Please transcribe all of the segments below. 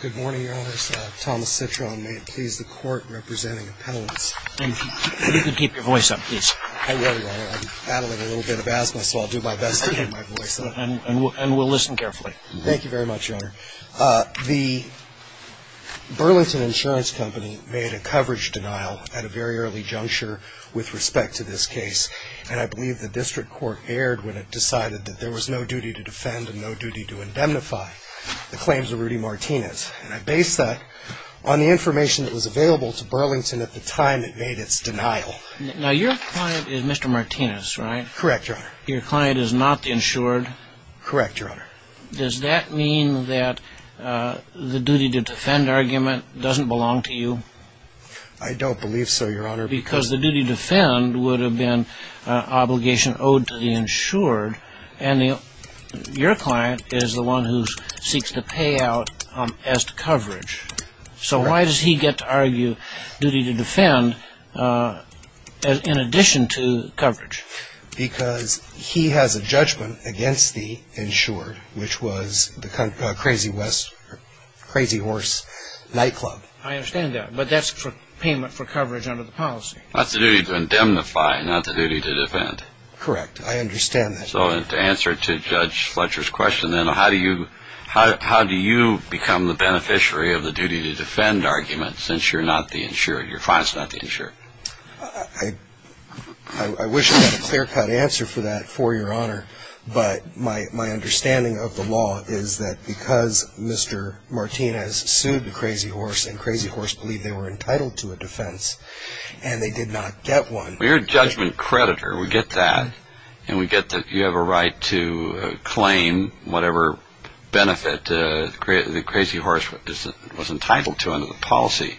Good morning, Your Honor. Thomas Citron. May it please the Court, representing appellants. And if you could keep your voice up, please. I will, Your Honor. I'm battling a little bit of asthma, so I'll do my best to keep my voice up. And we'll listen carefully. Thank you very much, Your Honor. The Burlington Insurance Company made a coverage denial at a very early juncture with respect to this case, and I believe the district court erred when it decided that there was no duty to defend and no duty to indemnify. The claims of Rudy Martinez. And I base that on the information that was available to Burlington at the time it made its denial. Now, your client is Mr. Martinez, right? Correct, Your Honor. Your client is not the insured? Correct, Your Honor. Does that mean that the duty to defend argument doesn't belong to you? I don't believe so, Your Honor. Because the duty to defend would have been an obligation owed to the insured, and your client is the one who seeks to pay out as to coverage. So why does he get to argue duty to defend in addition to coverage? Because he has a judgment against the insured, which was the Crazy Horse Nightclub. I understand that, but that's for payment for coverage under the policy. That's the duty to indemnify, not the duty to defend. Correct. I understand that. So to answer to Judge Fletcher's question then, how do you become the beneficiary of the duty to defend argument since your client is not the insured? I wish I had a clear-cut answer for that for Your Honor, but my understanding of the law is that because Mr. Martinez sued the Crazy Horse and Crazy Horse believed they were entitled to a defense and they did not get one. Well, you're a judgment creditor. We get that. And we get that you have a right to claim whatever benefit the Crazy Horse was entitled to under the policy.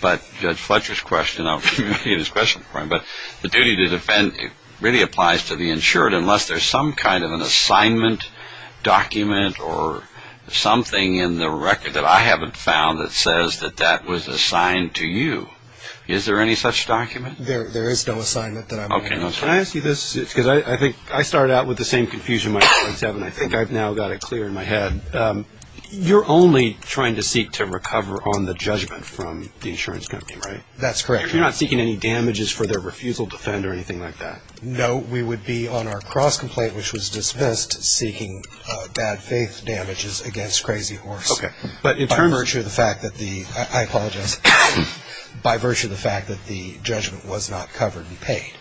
But Judge Fletcher's question, I'll leave his question for him, but the duty to defend really applies to the insured unless there's some kind of an assignment document or something in the record that I haven't found that says that that was assigned to you. Is there any such document? There is no assignment that I'm aware of. Can I ask you this? Because I think I started out with the same confusion when I was 27. I think I've now got it clear in my head. You're only trying to seek to recover on the judgment from the insurance company, right? That's correct. You're not seeking any damages for their refusal to defend or anything like that? No. We would be on our cross-complaint, which was dismissed, seeking bad faith damages against Crazy Horse. Okay. By virtue of the fact that the judgment was not covered and paid.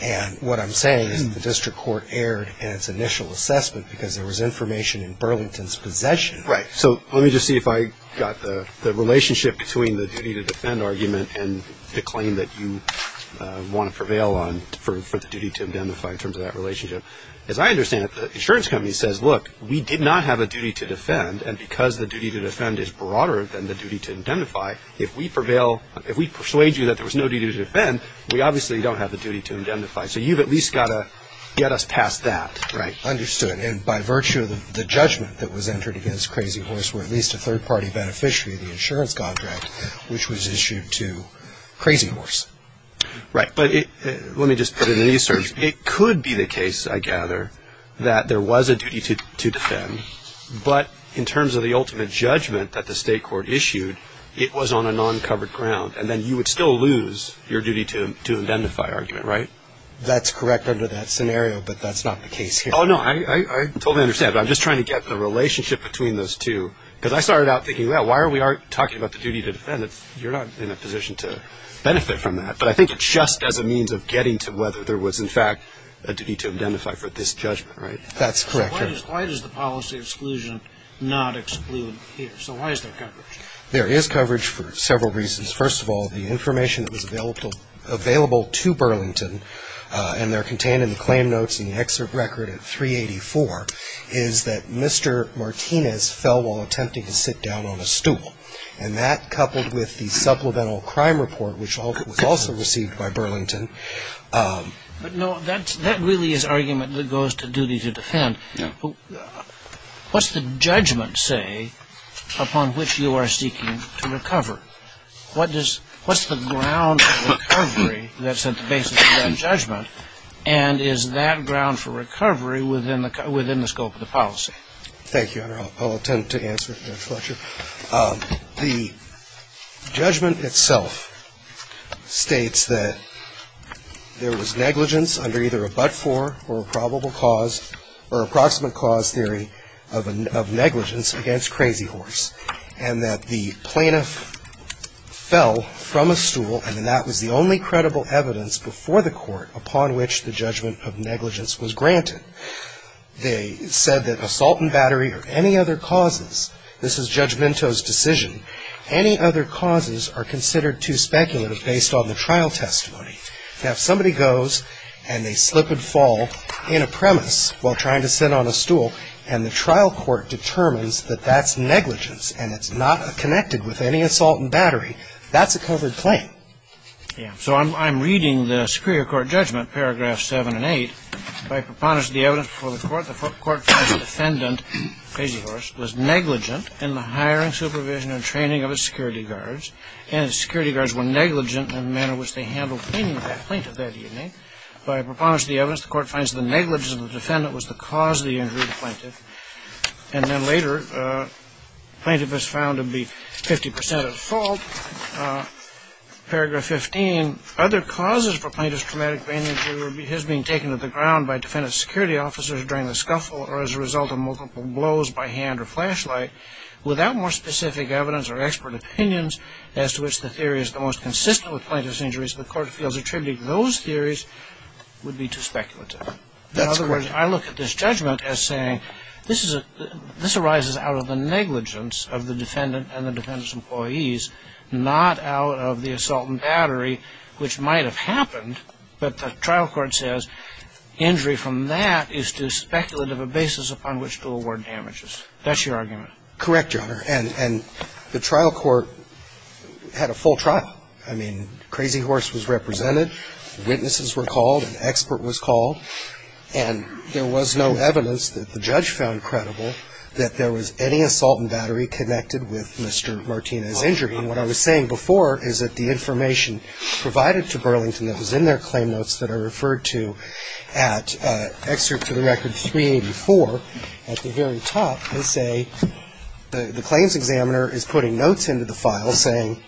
And what I'm saying is the district court erred in its initial assessment because there was information in Burlington's possession. Right. So let me just see if I got the relationship between the duty to defend argument and the claim that you want to prevail on for the duty to indemnify in terms of that relationship. As I understand it, the insurance company says, look, we did not have a duty to defend, and because the duty to defend is broader than the duty to indemnify, if we persuade you that there was no duty to defend, we obviously don't have the duty to indemnify. So you've at least got to get us past that. Right. Understood. And by virtue of the judgment that was entered against Crazy Horse, we're at least a third-party beneficiary of the insurance contract, which was issued to Crazy Horse. Right. But let me just put it in these terms. It could be the case, I gather, that there was a duty to defend, but in terms of the ultimate judgment that the state court issued, it was on a non-covered ground, and then you would still lose your duty to indemnify argument, right? That's correct under that scenario, but that's not the case here. Oh, no. I totally understand, but I'm just trying to get the relationship between those two, because I started out thinking, well, why are we talking about the duty to defend? You're not in a position to benefit from that. But I think it's just as a means of getting to whether there was, in fact, a duty to indemnify for this judgment, right? That's correct. Why does the policy exclusion not exclude here? So why is there coverage? There is coverage for several reasons. First of all, the information that was available to Burlington, and they're contained in the claim notes and the excerpt record at 384, is that Mr. Martinez fell while attempting to sit down on a stool, and that coupled with the supplemental crime report, which was also received by Burlington. But, no, that really is argument that goes to duty to defend. Yeah. What's the judgment say upon which you are seeking to recover? What's the ground for recovery that's at the basis of that judgment, and is that ground for recovery within the scope of the policy? Thank you, Your Honor. I'll attempt to answer it in the next lecture. The judgment itself states that there was negligence under either a but-for or a probable cause or approximate cause theory of negligence against Crazy Horse, and that the plaintiff fell from a stool, and that was the only credible evidence before the court upon which the judgment of negligence was granted. They said that assault and battery or any other causes, this is Judge Vinto's decision, any other causes are considered too speculative based on the trial testimony. Now, if somebody goes and they slip and fall in a premise while trying to sit on a stool, and the trial court determines that that's negligence and it's not connected with any assault and battery, that's a covered claim. Yeah. So I'm reading the Superior Court judgment, paragraphs 7 and 8, by preponderance of the evidence before the court, the court finds the defendant, Crazy Horse, was negligent in the hiring, supervision, and training of his security guards, and his security guards were negligent in the manner in which they handled the plaintiff that evening. By preponderance of the evidence, the court finds the negligence of the defendant was the cause of the injury of the plaintiff. And then later, the plaintiff is found to be 50 percent at fault. Paragraph 15, other causes for plaintiff's traumatic brain injury were his being taken to the ground by defendant's security officers during the scuffle or as a result of multiple blows by hand or flashlight. Without more specific evidence or expert opinions as to which the theory is the most consistent with plaintiff's injuries, the court feels attributing those theories would be too speculative. In other words, I look at this judgment as saying, this arises out of the negligence of the defendant and the defendant's employees, not out of the assault and battery, which might have happened, but the trial court says injury from that is too speculative a basis upon which to award damages. That's your argument. Correct, Your Honor. And the trial court had a full trial. I mean, Crazy Horse was represented, witnesses were called, an expert was called, and there was no evidence that the judge found credible that there was any assault and battery connected with Mr. Martinez's injury. I mean, what I was saying before is that the information provided to Burlington that was in their claim notes that I referred to at excerpt to the record 384, at the very top they say the claims examiner is putting notes into the file saying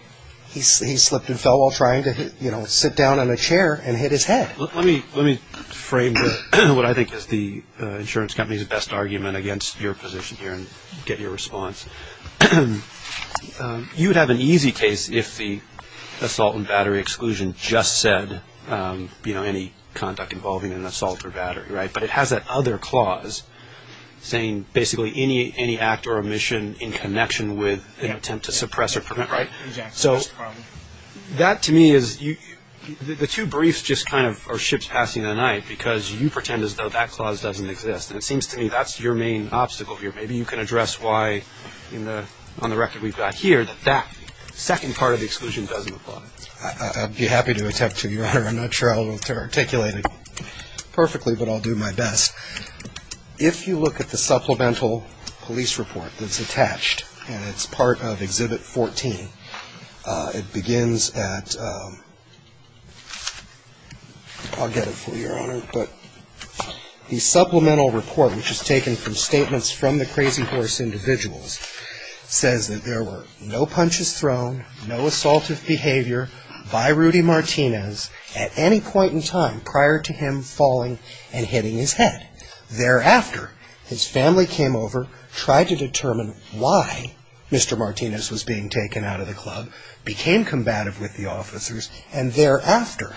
he slipped and fell while trying to, you know, sit down on a chair and hit his head. Let me frame what I think is the insurance company's best argument against your position here and get your response. You would have an easy case if the assault and battery exclusion just said, you know, any conduct involving an assault or battery, right? But it has that other clause saying basically any act or omission in connection with an attempt to suppress or prevent, right? Exactly. So that to me is, the two briefs just kind of are ships passing the night because you pretend as though that clause doesn't exist, and it seems to me that's your main obstacle here. Maybe you can address why, on the record we've got here, that that second part of the exclusion doesn't apply. I'd be happy to attempt to, Your Honor. I'm not sure I'll articulate it perfectly, but I'll do my best. If you look at the supplemental police report that's attached, and it's part of Exhibit 14, the supplemental report which is taken from statements from the crazy horse individuals says that there were no punches thrown, no assaultive behavior by Rudy Martinez at any point in time prior to him falling and hitting his head. Thereafter, his family came over, tried to determine why Mr. Martinez was being taken out of the club, became combative with the officers, and thereafter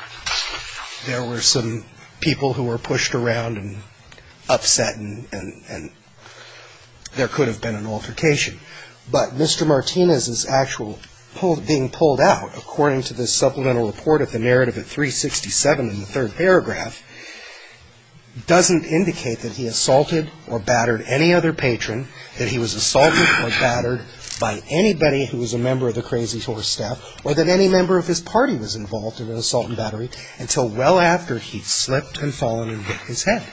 there were some people who were pushed around and upset, and there could have been an altercation. But Mr. Martinez's actual being pulled out, according to this supplemental report of the narrative at 367 in the third paragraph, doesn't indicate that he assaulted or battered any other patron, that he was assaulted or battered by anybody who was a member of the crazy horse staff, or that any member of his party was involved in an assault and battery until well after he'd slipped and fallen and hit his head.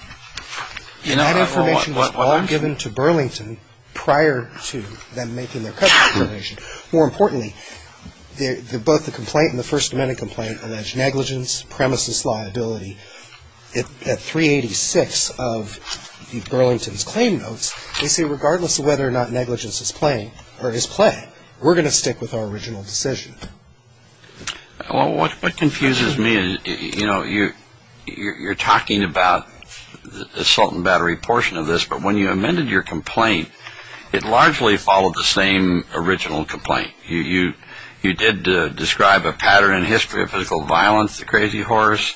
And that information was all given to Burlington prior to them making their cover information. More importantly, both the complaint and the First Amendment complaint allege negligence, premises liability. At 386 of Burlington's claim notes, they say regardless of whether or not negligence is plain or is plain, we're going to stick with our original decision. Well, what confuses me is, you know, you're talking about the assault and battery portion of this, but when you amended your complaint, it largely followed the same original complaint. You did describe a pattern in history of physical violence, the crazy horse.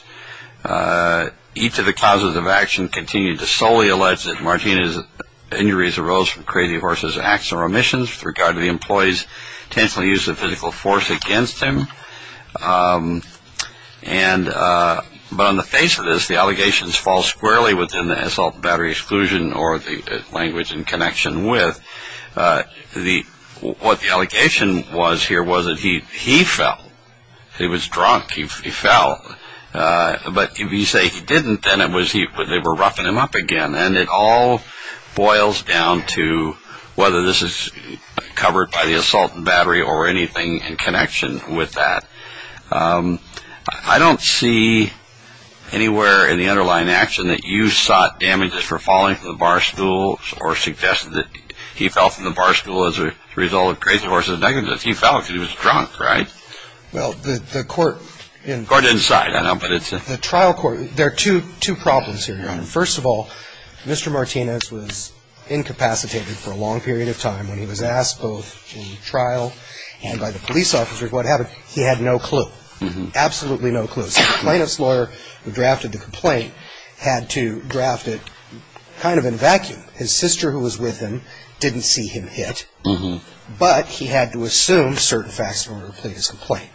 Each of the causes of action continue to solely allege that Martinez's injuries arose from crazy horse's acts and remissions with regard to the employee's intentional use of physical force against him. But on the face of this, the allegations fall squarely within the assault and battery exclusion or the language in connection with what the allegation was here was that he fell. He was drunk. He fell. But if you say he didn't, then they were roughing him up again. And it all boils down to whether this is covered by the assault and battery or anything in connection with that. I don't see anywhere in the underlying action that you sought damages for falling from the barstool or suggested that he fell from the barstool as a result of crazy horse's negligence. He fell because he was drunk, right? Well, the court in the trial court, there are two problems here. First of all, Mr. Martinez was incapacitated for a long period of time when he was asked both in trial and by the police officers what happened. He had no clue, absolutely no clue. So the plaintiff's lawyer who drafted the complaint had to draft it kind of in a vacuum. His sister who was with him didn't see him hit, but he had to assume certain facts in order to plead his complaint.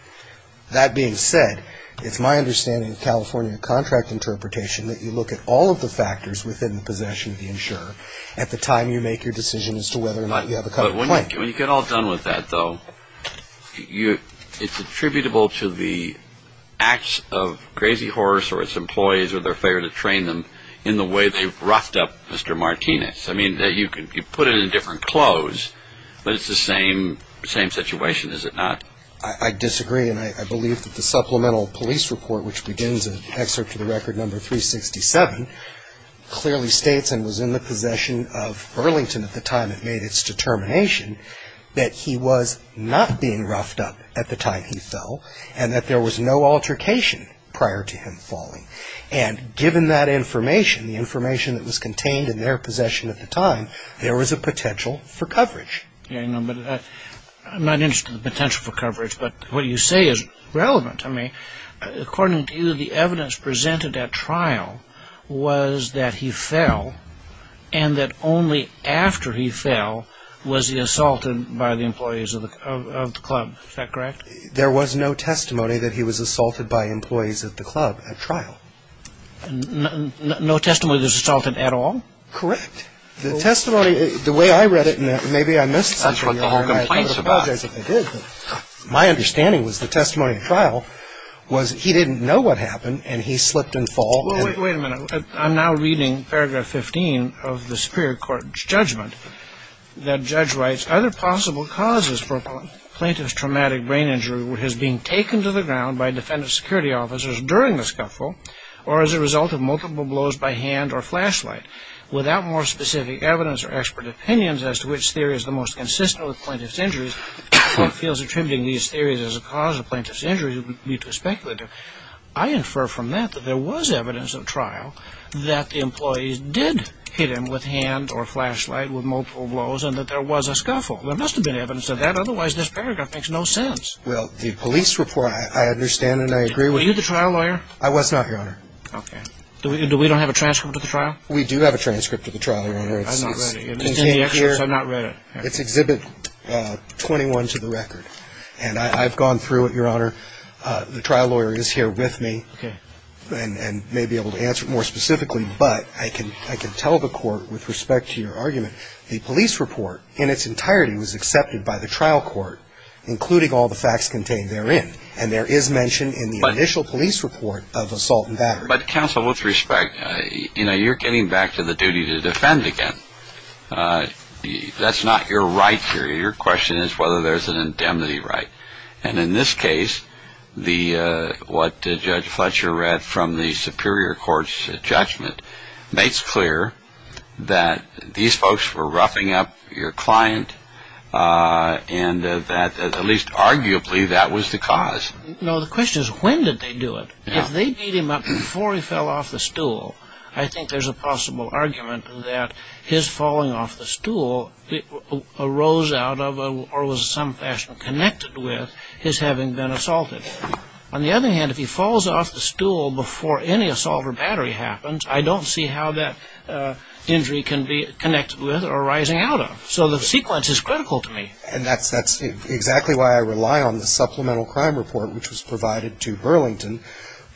That being said, it's my understanding of California contract interpretation that you look at all of the factors within the possession of the insurer at the time you make your decision as to whether or not you have a complaint. When you get all done with that, though, it's attributable to the acts of crazy horse or its employees or their failure to train them in the way they've roughed up Mr. Martinez. I mean, you put it in different clothes, but it's the same situation, is it not? I disagree, and I believe that the supplemental police report which begins in excerpt to the record number 367 clearly states and was in the possession of Burlington at the time it made its determination that he was not being roughed up at the time he fell and that there was no altercation prior to him falling. And given that information, the information that was contained in their possession at the time, there was a potential for coverage. I'm not interested in the potential for coverage, but what you say is relevant to me. According to you, the evidence presented at trial was that he fell and that only after he fell was he assaulted by the employees of the club. Is that correct? There was no testimony that he was assaulted by employees at the club at trial. No testimony that he was assaulted at all? Correct. The testimony, the way I read it, maybe I missed something. That's what the whole complaint is about. My understanding was the testimony at trial was he didn't know what happened and he slipped and fell. Well, wait a minute. I'm now reading paragraph 15 of the superior court's judgment that judge writes, other possible causes for a plaintiff's traumatic brain injury were his being taken to the ground by defendant security officers during the scuffle or as a result of multiple blows by hand or flashlight without more specific evidence or expert opinions as to which theory is the most consistent with plaintiff's injuries. If the court feels attributing these theories as a cause of plaintiff's injuries, it would be too speculative. I infer from that that there was evidence at trial that the employees did hit him with hand or flashlight with multiple blows and that there was a scuffle. There must have been evidence of that. Otherwise, this paragraph makes no sense. Well, the police report, I understand and I agree with you. Were you the trial lawyer? I was not, Your Honor. Okay. Do we don't have a transcript of the trial? We do have a transcript of the trial, Your Honor. I've not read it. It's in the excerpts. I've not read it. It's Exhibit 21 to the record. And I've gone through it, Your Honor. The trial lawyer is here with me. Okay. And may be able to answer it more specifically, but I can tell the court with respect to your argument, the police report in its entirety was accepted by the trial court, including all the facts contained therein. And there is mention in the initial police report of assault and battery. But counsel, with respect, you know, you're getting back to the duty to defend again. That's not your right here. Your question is whether there's an indemnity right. And in this case, what Judge Fletcher read from the superior court's judgment makes clear that these folks were roughing up your client and that at least arguably that was the cause. No, the question is when did they do it. If they beat him up before he fell off the stool, I think there's a possible argument that his falling off the stool arose out of or was in some fashion connected with his having been assaulted. On the other hand, if he falls off the stool before any assault or battery happens, I don't see how that injury can be connected with or rising out of. So the sequence is critical to me. And that's exactly why I rely on the supplemental crime report which was provided to Burlington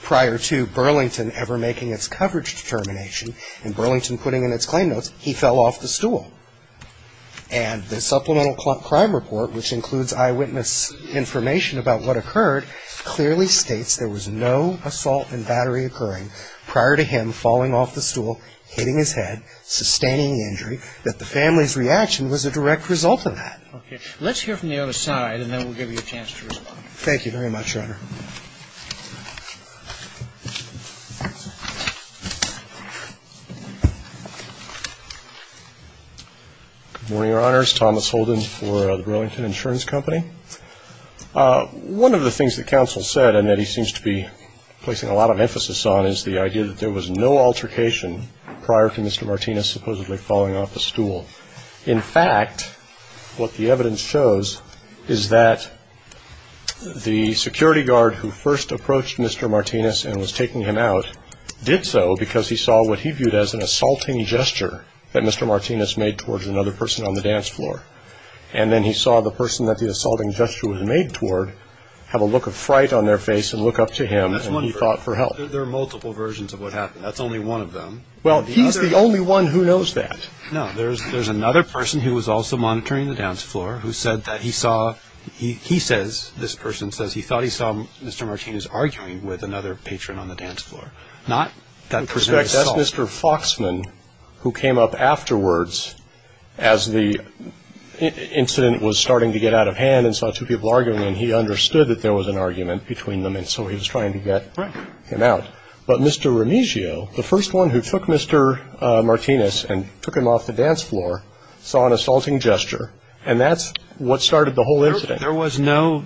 prior to Burlington ever making its coverage determination and Burlington putting in its claim notes he fell off the stool. And the supplemental crime report, which includes eyewitness information about what occurred, clearly states there was no assault and battery occurring prior to him falling off the stool, hitting his head, sustaining the injury, that the family's reaction was a direct result of that. Okay. Let's hear from the other side and then we'll give you a chance to respond. Thank you very much, Your Honor. Good morning, Your Honors. Thomas Holden for the Burlington Insurance Company. One of the things that counsel said and that he seems to be placing a lot of emphasis on is the idea that there was no altercation prior to Mr. Martinez supposedly falling off the stool. In fact, what the evidence shows is that the security guard who first approached Mr. Martinez and was taking him out did so because he saw what he viewed as an assaulting gesture that Mr. Martinez made towards another person on the dance floor. And then he saw the person that the assaulting gesture was made toward have a look of fright on their face and look up to him and call for help. There are multiple versions of what happened. That's only one of them. Well, he's the only one who knows that. No, there's another person who was also monitoring the dance floor who said that he saw he says this person says he thought he saw Mr. Martinez arguing with another patron on the dance floor. Not that person himself. That's Mr. Foxman who came up afterwards as the incident was starting to get out of hand and saw two people arguing and he understood that there was an argument between them and so he was trying to get him out. But Mr. Remigio, the first one who took Mr. Martinez and took him off the dance floor, saw an assaulting gesture and that's what started the whole incident. There was no,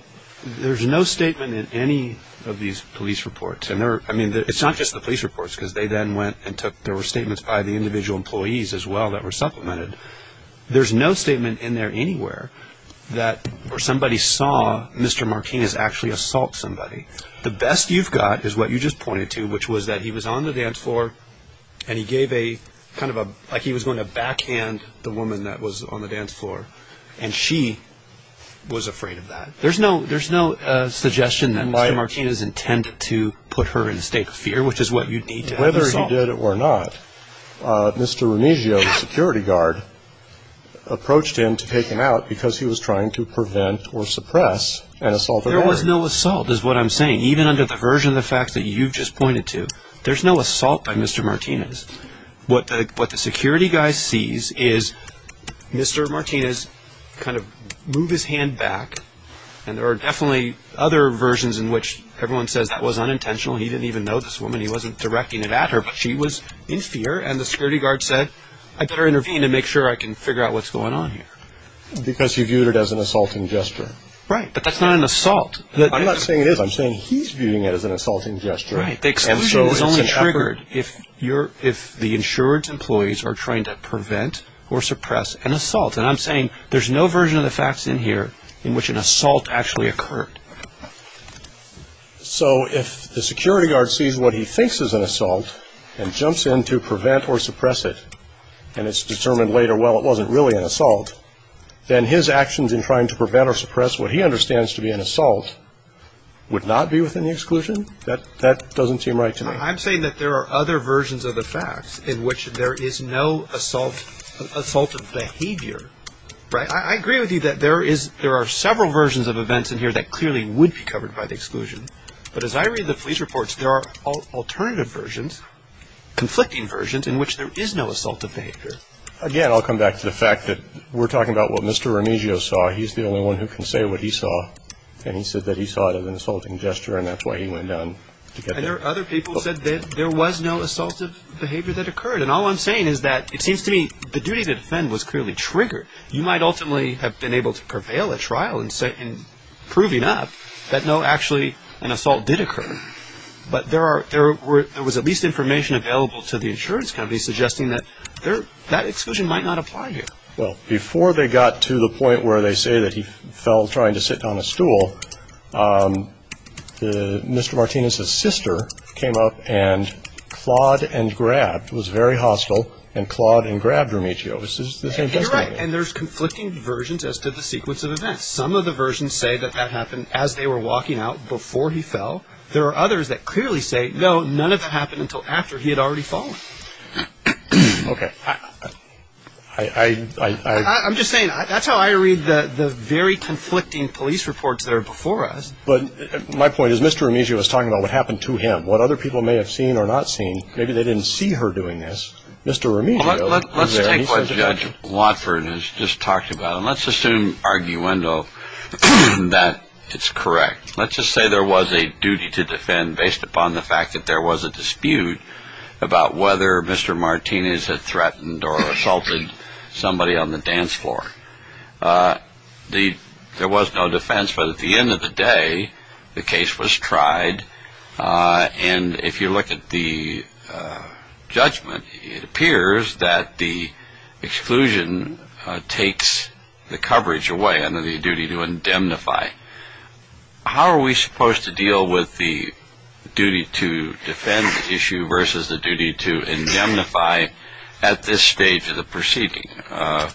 there's no statement in any of these police reports. I mean, it's not just the police reports because they then went and took, there were statements by the individual employees as well that were supplemented. There's no statement in there anywhere that somebody saw Mr. Martinez actually assault somebody. The best you've got is what you just pointed to, which was that he was on the dance floor and he gave a kind of a, like he was going to backhand the woman that was on the dance floor and she was afraid of that. There's no, there's no suggestion that Mr. Martinez intended to put her in a state of fear, which is what you'd need to have assaulted. Whether he did it or not, Mr. Remigio, the security guard, approached him to take him out because he was trying to prevent or suppress an assault. There was no assault is what I'm saying. Even under the version of the facts that you've just pointed to, there's no assault by Mr. Martinez. What the security guy sees is Mr. Martinez kind of move his hand back and there are definitely other versions in which everyone says that was unintentional, he didn't even know this woman, he wasn't directing it at her, but she was in fear and the security guard said, I better intervene and make sure I can figure out what's going on here. Because he viewed it as an assaulting gesture. Right, but that's not an assault. I'm not saying it is, I'm saying he's viewing it as an assaulting gesture. Right, the exclusion is only triggered if the insurance employees are trying to prevent or suppress an assault. And I'm saying there's no version of the facts in here in which an assault actually occurred. So if the security guard sees what he thinks is an assault and jumps in to prevent or suppress it and it's determined later, well, it wasn't really an assault, then his actions in trying to prevent or suppress what he understands to be an assault would not be within the exclusion? That doesn't seem right to me. I'm saying that there are other versions of the facts in which there is no assault of behavior. I agree with you that there are several versions of events in here that clearly would be covered by the exclusion. But as I read the police reports, there are alternative versions, conflicting versions, in which there is no assault of behavior. Again, I'll come back to the fact that we're talking about what Mr. Remigio saw. He's the only one who can say what he saw. And he said that he saw it as an assaulting gesture, and that's why he went down to get that. And there are other people who said that there was no assault of behavior that occurred. And all I'm saying is that it seems to me the duty to defend was clearly triggered. You might ultimately have been able to prevail at trial in proving up that, no, actually, an assault did occur. But there was at least information available to the insurance company suggesting that that exclusion might not apply here. Well, before they got to the point where they say that he fell trying to sit on a stool, Mr. Martinez's sister came up and clawed and grabbed, was very hostile, and clawed and grabbed Remigio. You're right. And there's conflicting versions as to the sequence of events. Some of the versions say that that happened as they were walking out before he fell. There are others that clearly say, no, none of it happened until after he had already fallen. Okay. I'm just saying, that's how I read the very conflicting police reports that are before us. But my point is Mr. Remigio was talking about what happened to him, what other people may have seen or not seen. Maybe they didn't see her doing this. Let's take what Judge Watford has just talked about, and let's assume, arguendo, that it's correct. Let's just say there was a duty to defend based upon the fact that there was a dispute about whether Mr. Martinez had threatened or assaulted somebody on the dance floor. There was no defense, but at the end of the day, the case was tried. And if you look at the judgment, it appears that the exclusion takes the coverage away under the duty to indemnify. How are we supposed to deal with the duty to defend issue versus the duty to indemnify at this stage of the proceeding? The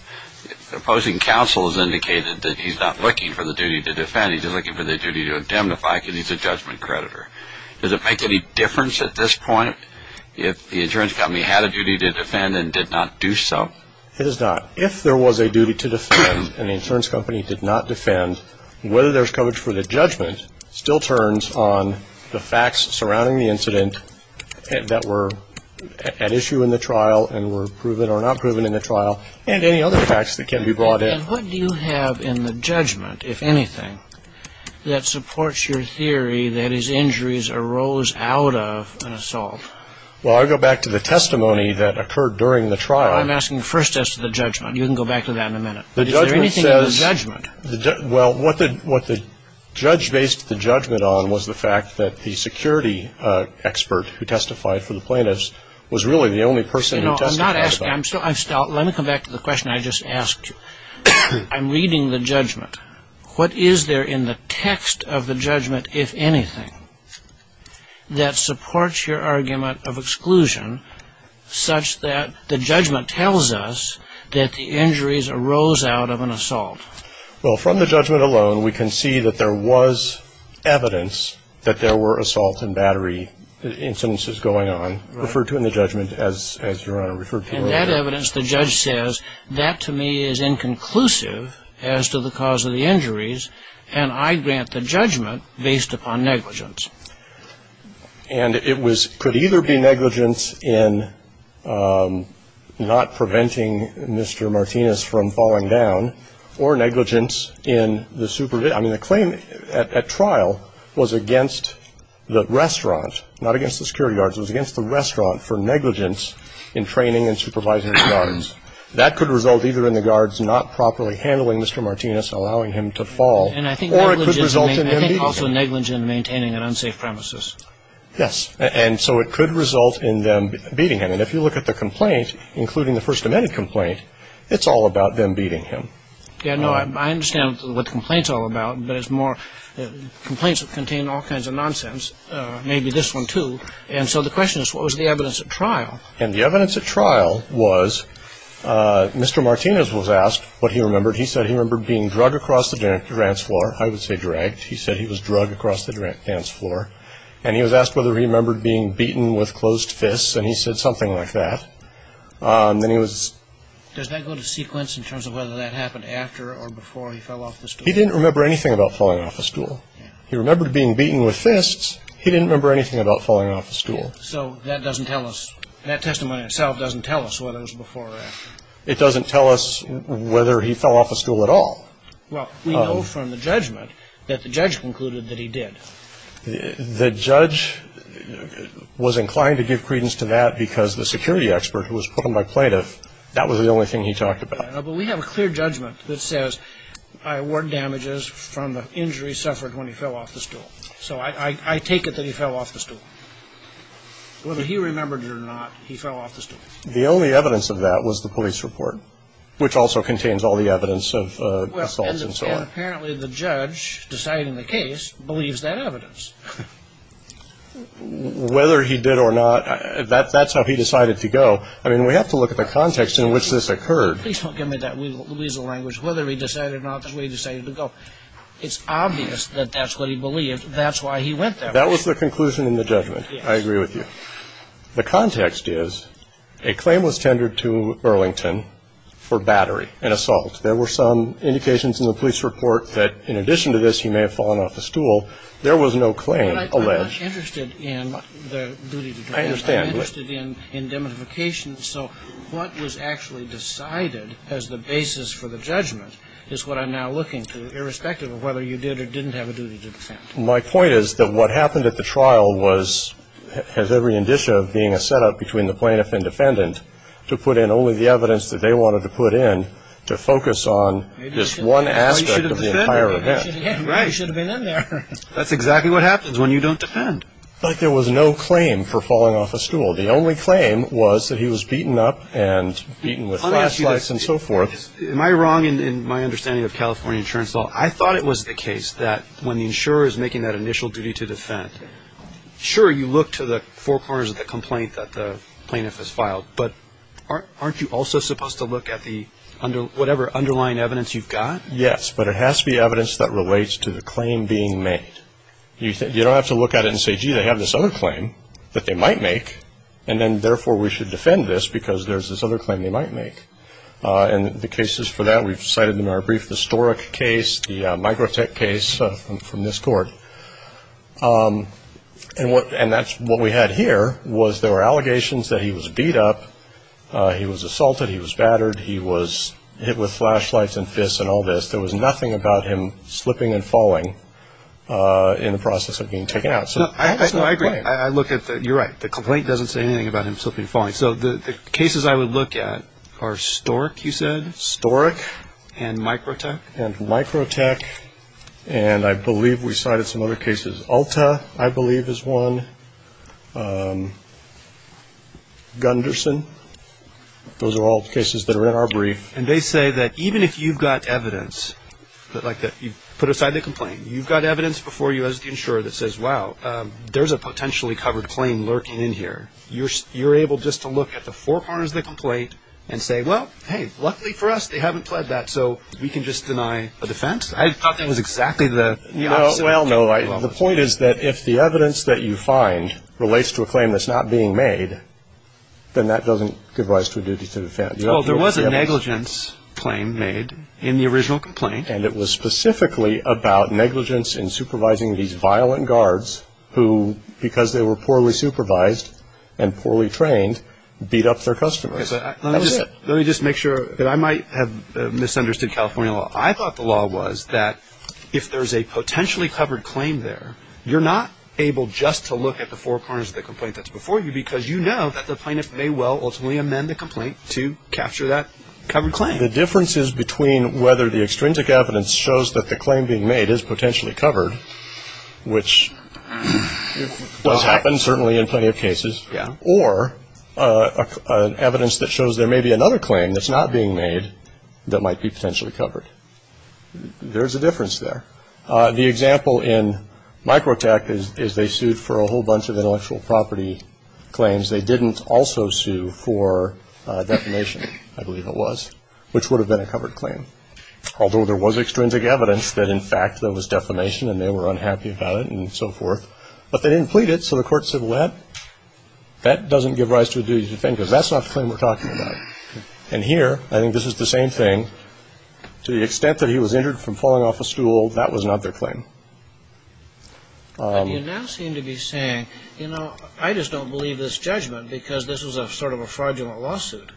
opposing counsel has indicated that he's not looking for the duty to defend. He's just looking for the duty to indemnify because he's a judgment creditor. Does it make any difference at this point if the insurance company had a duty to defend and did not do so? It does not. If there was a duty to defend and the insurance company did not defend, whether there's coverage for the judgment still turns on the facts surrounding the incident that were at issue in the trial and were proven or not proven in the trial, and any other facts that can be brought in. And what do you have in the judgment, if anything, that supports your theory that his injuries arose out of an assault? Well, I go back to the testimony that occurred during the trial. I'm asking the first test of the judgment. You can go back to that in a minute. But is there anything in the judgment? Well, what the judge based the judgment on was the fact that the security expert who testified for the plaintiffs was really the only person who testified. Let me come back to the question I just asked you. I'm reading the judgment. What is there in the text of the judgment, if anything, that supports your argument of exclusion such that the judgment tells us that the injuries arose out of an assault? Well, from the judgment alone, we can see that there was evidence that there were assault and battery instances going on, referred to in the judgment as your Honor, referred to in the judgment. And that evidence, the judge says, that to me is inconclusive as to the cause of the injuries, and I grant the judgment based upon negligence. And it could either be negligence in not preventing Mr. Martinez from falling down or negligence in the supervision. I mean, the claim at trial was against the restaurant, not against the security guards. It was against the restaurant for negligence in training and supervising the guards. That could result either in the guards not properly handling Mr. Martinez, allowing him to fall, or it could result in them beating him. And I think also negligence in maintaining an unsafe premises. Yes. And so it could result in them beating him. And if you look at the complaint, including the First Amendment complaint, it's all about them beating him. Yeah, no, I understand what the complaint's all about, but it's more complaints that contain all kinds of nonsense. Maybe this one, too. And so the question is, what was the evidence at trial? And the evidence at trial was Mr. Martinez was asked what he remembered. He said he remembered being drugged across the dance floor. I would say dragged. He said he was drugged across the dance floor. And he was asked whether he remembered being beaten with closed fists, and he said something like that. Does that go to sequence in terms of whether that happened after or before he fell off the stool? He didn't remember anything about falling off a stool. He remembered being beaten with fists. He didn't remember anything about falling off a stool. So that testimony itself doesn't tell us whether it was before or after. It doesn't tell us whether he fell off a stool at all. Well, we know from the judgment that the judge concluded that he did. The judge was inclined to give credence to that because the security expert who was put on by plaintiff, that was the only thing he talked about. But we have a clear judgment that says I award damages from the injury suffered when he fell off the stool. So I take it that he fell off the stool. Whether he remembered it or not, he fell off the stool. The only evidence of that was the police report, which also contains all the evidence of assaults and so on. But apparently the judge deciding the case believes that evidence. Whether he did or not, that's how he decided to go. I mean, we have to look at the context in which this occurred. Please don't give me that weasel language. Whether he decided or not, that's the way he decided to go. It's obvious that that's what he believed. That's why he went there. That was the conclusion in the judgment. I agree with you. The context is a claim was tendered to Burlington for battery and assault. There were some indications in the police report that in addition to this, he may have fallen off the stool. There was no claim alleged. But I'm not interested in the duty to defend. I understand. I'm interested in indemnification. So what was actually decided as the basis for the judgment is what I'm now looking to, irrespective of whether you did or didn't have a duty to defend. My point is that what happened at the trial was, has every indicia of being a setup between the plaintiff and defendant to put in only the evidence that they wanted to put in to focus on this one aspect of the entire event. Right. You should have been in there. That's exactly what happens when you don't defend. But there was no claim for falling off a stool. The only claim was that he was beaten up and beaten with flashlights and so forth. Am I wrong in my understanding of California insurance law? I thought it was the case that when the insurer is making that initial duty to defend, but aren't you also supposed to look at the whatever underlying evidence you've got? Yes, but it has to be evidence that relates to the claim being made. You don't have to look at it and say, gee, they have this other claim that they might make, and then therefore we should defend this because there's this other claim they might make. And the cases for that, we've cited them in our brief historic case, the microtech case from this court. And that's what we had here was there were allegations that he was beat up, he was assaulted, he was battered, he was hit with flashlights and fists and all this. There was nothing about him slipping and falling in the process of being taken out. I agree. You're right. The complaint doesn't say anything about him slipping and falling. So the cases I would look at are STORC, you said? STORC. And microtech? And microtech. And I believe we cited some other cases. ULTA, I believe, is one. Gunderson. Those are all cases that are in our brief. And they say that even if you've got evidence, like you put aside the complaint, you've got evidence before you as the insurer that says, wow, there's a potentially covered claim lurking in here. You're able just to look at the four corners of the complaint and say, well, hey, luckily for us they haven't pled that, so we can just deny a defense. I thought that was exactly the opposite. Well, no, the point is that if the evidence that you find relates to a claim that's not being made, then that doesn't give rise to a duty to defend. Well, there was a negligence claim made in the original complaint. And it was specifically about negligence in supervising these violent guards who, because they were poorly supervised and poorly trained, beat up their customers. Let me just make sure that I might have misunderstood California law. I thought the law was that if there's a potentially covered claim there, you're not able just to look at the four corners of the complaint that's before you because you know that the plaintiff may well ultimately amend the complaint to capture that covered claim. The difference is between whether the extrinsic evidence shows that the claim being made is potentially covered, which does happen certainly in plenty of cases, or evidence that shows there may be another claim that's not being made that might be potentially covered. There's a difference there. The example in Microtech is they sued for a whole bunch of intellectual property claims. They didn't also sue for defamation, I believe it was, which would have been a covered claim. Although there was extrinsic evidence that, in fact, there was defamation and they were unhappy about it and so forth. But they didn't plead it, so the court said, well, that doesn't give rise to a duty to defend because that's not the claim we're talking about. And here, I think this is the same thing. To the extent that he was injured from falling off a stool, that was not their claim. But you now seem to be saying, you know, I just don't believe this judgment because this was sort of a fraudulent lawsuit.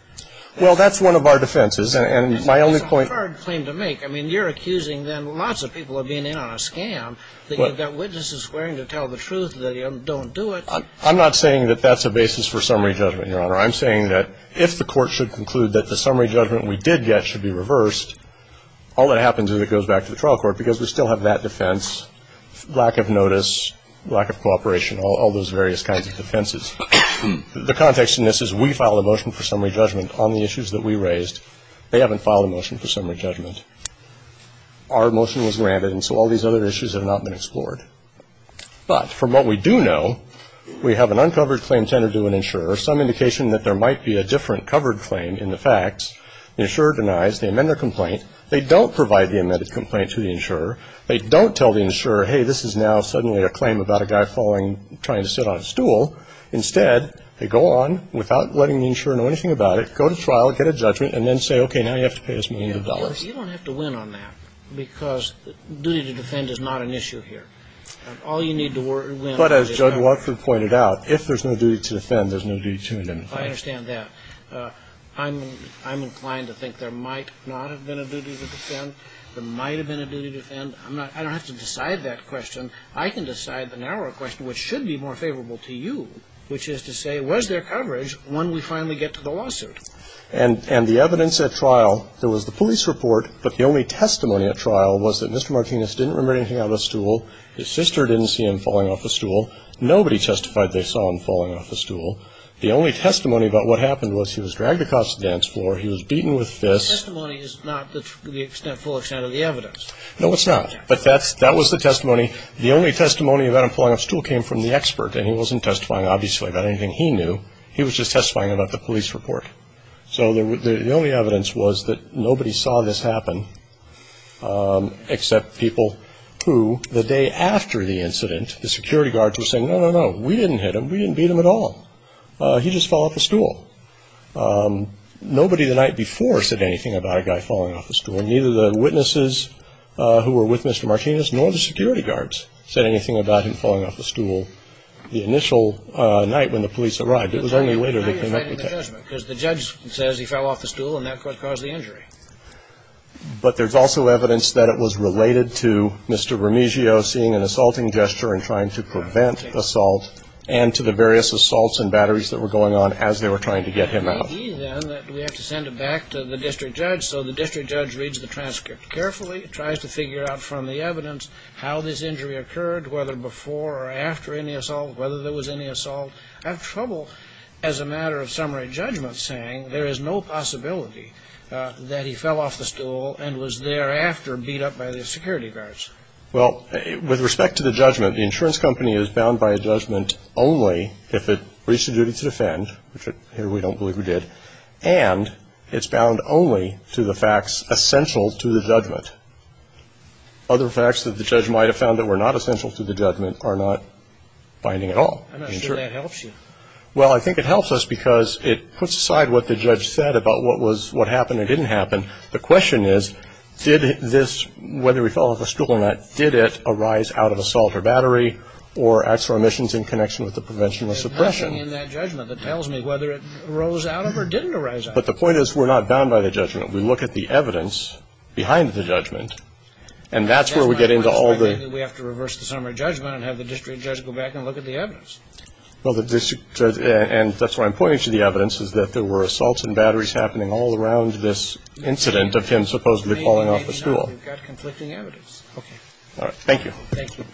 Well, that's one of our defenses. And my only point It's a hard claim to make. I mean, you're accusing then lots of people of being in on a scam, that you've got witnesses swearing to tell the truth, that you don't do it. I'm not saying that that's a basis for summary judgment, Your Honor. I'm saying that if the court should conclude that the summary judgment we did get should be reversed, all that happens is it goes back to the trial court because we still have that defense, lack of notice, lack of cooperation, all those various kinds of defenses. The context in this is we filed a motion for summary judgment on the issues that we raised. They haven't filed a motion for summary judgment. Our motion was granted, and so all these other issues have not been explored. But from what we do know, we have an uncovered claim tendered to an insurer, some indication that there might be a different covered claim in the facts. The insurer denies the amended complaint. They don't provide the amended complaint to the insurer. They don't tell the insurer, hey, this is now suddenly a claim about a guy falling and trying to sit on a stool. Instead, they go on without letting the insurer know anything about it, go to trial, get a judgment, and then say, okay, now you have to pay us millions of dollars. You don't have to win on that because duty to defend is not an issue here. All you need to win is a judgment. But as Judge Watford pointed out, if there's no duty to defend, there's no duty to amend. I understand that. I'm inclined to think there might not have been a duty to defend. There might have been a duty to defend. I don't have to decide that question. I can decide the narrower question, which should be more favorable to you, which is to say was there coverage when we finally get to the lawsuit? And the evidence at trial, there was the police report, but the only testimony at trial was that Mr. Martinez didn't remember anything out of the stool. His sister didn't see him falling off the stool. Nobody testified they saw him falling off the stool. The only testimony about what happened was he was dragged across the dance floor. He was beaten with fists. The testimony is not to the extent, full extent of the evidence. No, it's not. But that was the testimony. The only testimony about him falling off the stool came from the expert, and he wasn't testifying, obviously, about anything he knew. He was just testifying about the police report. So the only evidence was that nobody saw this happen except people who the day after the incident, the security guards were saying, no, no, no, we didn't hit him. We didn't beat him at all. He just fell off the stool. Nobody the night before said anything about a guy falling off the stool, and neither the witnesses who were with Mr. Martinez nor the security guards said anything about him falling off the stool the initial night when the police arrived. It was only later they came up with that. Because the judge says he fell off the stool, and that caused the injury. But there's also evidence that it was related to Mr. Remigio seeing an assaulting gesture and trying to prevent assault and to the various assaults and batteries that were going on as they were trying to get him out. We have to send it back to the district judge. So the district judge reads the transcript carefully, tries to figure out from the evidence how this injury occurred, whether before or after any assault, whether there was any assault. I have trouble as a matter of summary judgment saying there is no possibility that he fell off the stool and was thereafter beat up by the security guards. Well, with respect to the judgment, the insurance company is bound by a judgment only if it reached a duty to defend, which here we don't believe it did, and it's bound only to the facts essential to the judgment. Other facts that the judge might have found that were not essential to the judgment are not binding at all. I'm not sure that helps you. Well, I think it helps us because it puts aside what the judge said about what happened and didn't happen. The question is, did this, whether he fell off the stool or not, did it arise out of assault or battery or acts or omissions in connection with the prevention or suppression? There's nothing in that judgment that tells me whether it arose out of or didn't arise out of. But the point is, we're not bound by the judgment. We look at the evidence behind the judgment, and that's where we get into all the – That's why I'm saying we have to reverse the summary judgment and have the district judge go back and look at the evidence. Well, the district judge – and that's why I'm pointing to the evidence, is that there were assaults and batteries happening all around this incident of him supposedly falling off the stool. Maybe not. We've got conflicting evidence. Okay. Thank you. Thank you.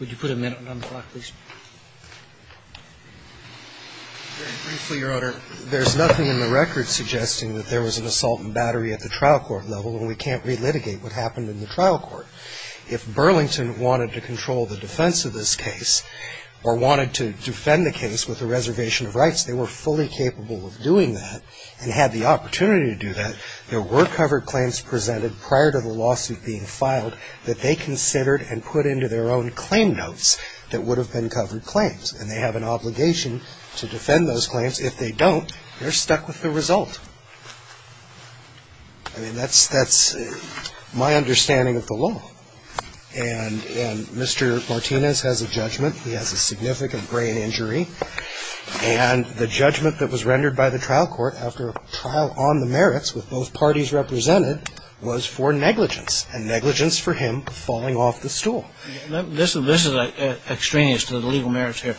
Would you put a minute on the clock, please? Very briefly, Your Honor. There's nothing in the record suggesting that there was an assault and battery at the trial court level, and we can't relitigate what happened in the trial court. If Burlington wanted to control the defense of this case or wanted to defend the case with a reservation of rights, they were fully capable of doing that and had the opportunity to do that. There were covered claims presented prior to the lawsuit being filed that they considered and put into their own claim notes that would have been covered claims, and they have an obligation to defend those claims. If they don't, they're stuck with the result. I mean, that's my understanding of the law, and Mr. Martinez has a judgment. He has a significant brain injury, and the judgment that was rendered by the trial court after a trial on the merits with both parties represented was for negligence, and negligence for him falling off the stool. This is extraneous to the legal merits here.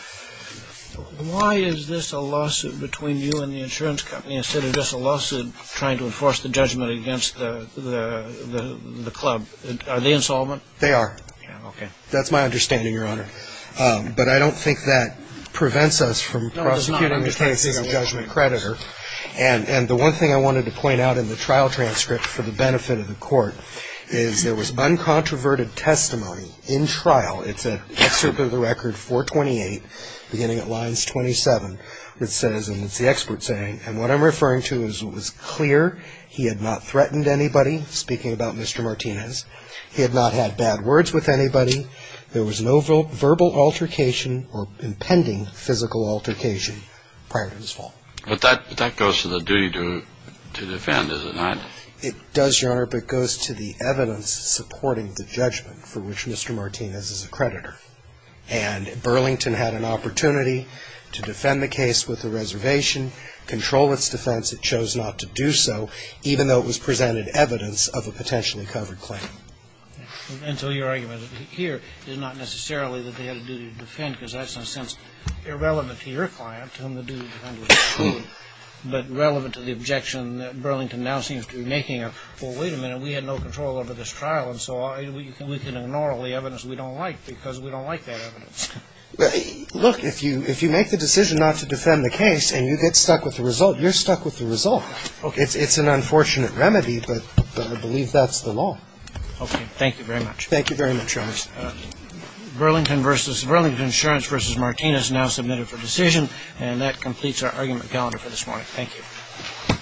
Why is this a lawsuit between you and the insurance company instead of just a lawsuit trying to enforce the judgment against the club? Are they insolvent? They are. Okay. That's my understanding, Your Honor. But I don't think that prevents us from processing the case as a judgment creditor. And the one thing I wanted to point out in the trial transcript for the benefit of the court is there was uncontroverted testimony in trial. It's an excerpt of the record 428, beginning at lines 27, which says, and it's the expert saying, and what I'm referring to is it was clear he had not threatened anybody, speaking about Mr. Martinez. He had not had bad words with anybody. There was no verbal altercation or impending physical altercation prior to his fall. But that goes to the duty to defend, does it not? It does, Your Honor, but it goes to the evidence supporting the judgment for which Mr. Martinez is a creditor. And Burlington had an opportunity to defend the case with a reservation, control its defense. It chose not to do so, even though it was presented evidence of a potentially covered claim. And so your argument here is not necessarily that they had a duty to defend, because that's, in a sense, irrelevant to your client, to whom the duty to defend was. But relevant to the objection that Burlington now seems to be making of, well, wait a minute, we had no control over this trial, and so we can ignore all the evidence we don't like because we don't like that evidence. Look, if you make the decision not to defend the case and you get stuck with the result, you're stuck with the result. Okay. It's an unfortunate remedy, but I believe that's the law. Okay. Thank you very much. Thank you very much, Your Honor. Burlington Insurance v. Martinez now submitted for decision, and that completes our argument calendar for this morning. Thank you.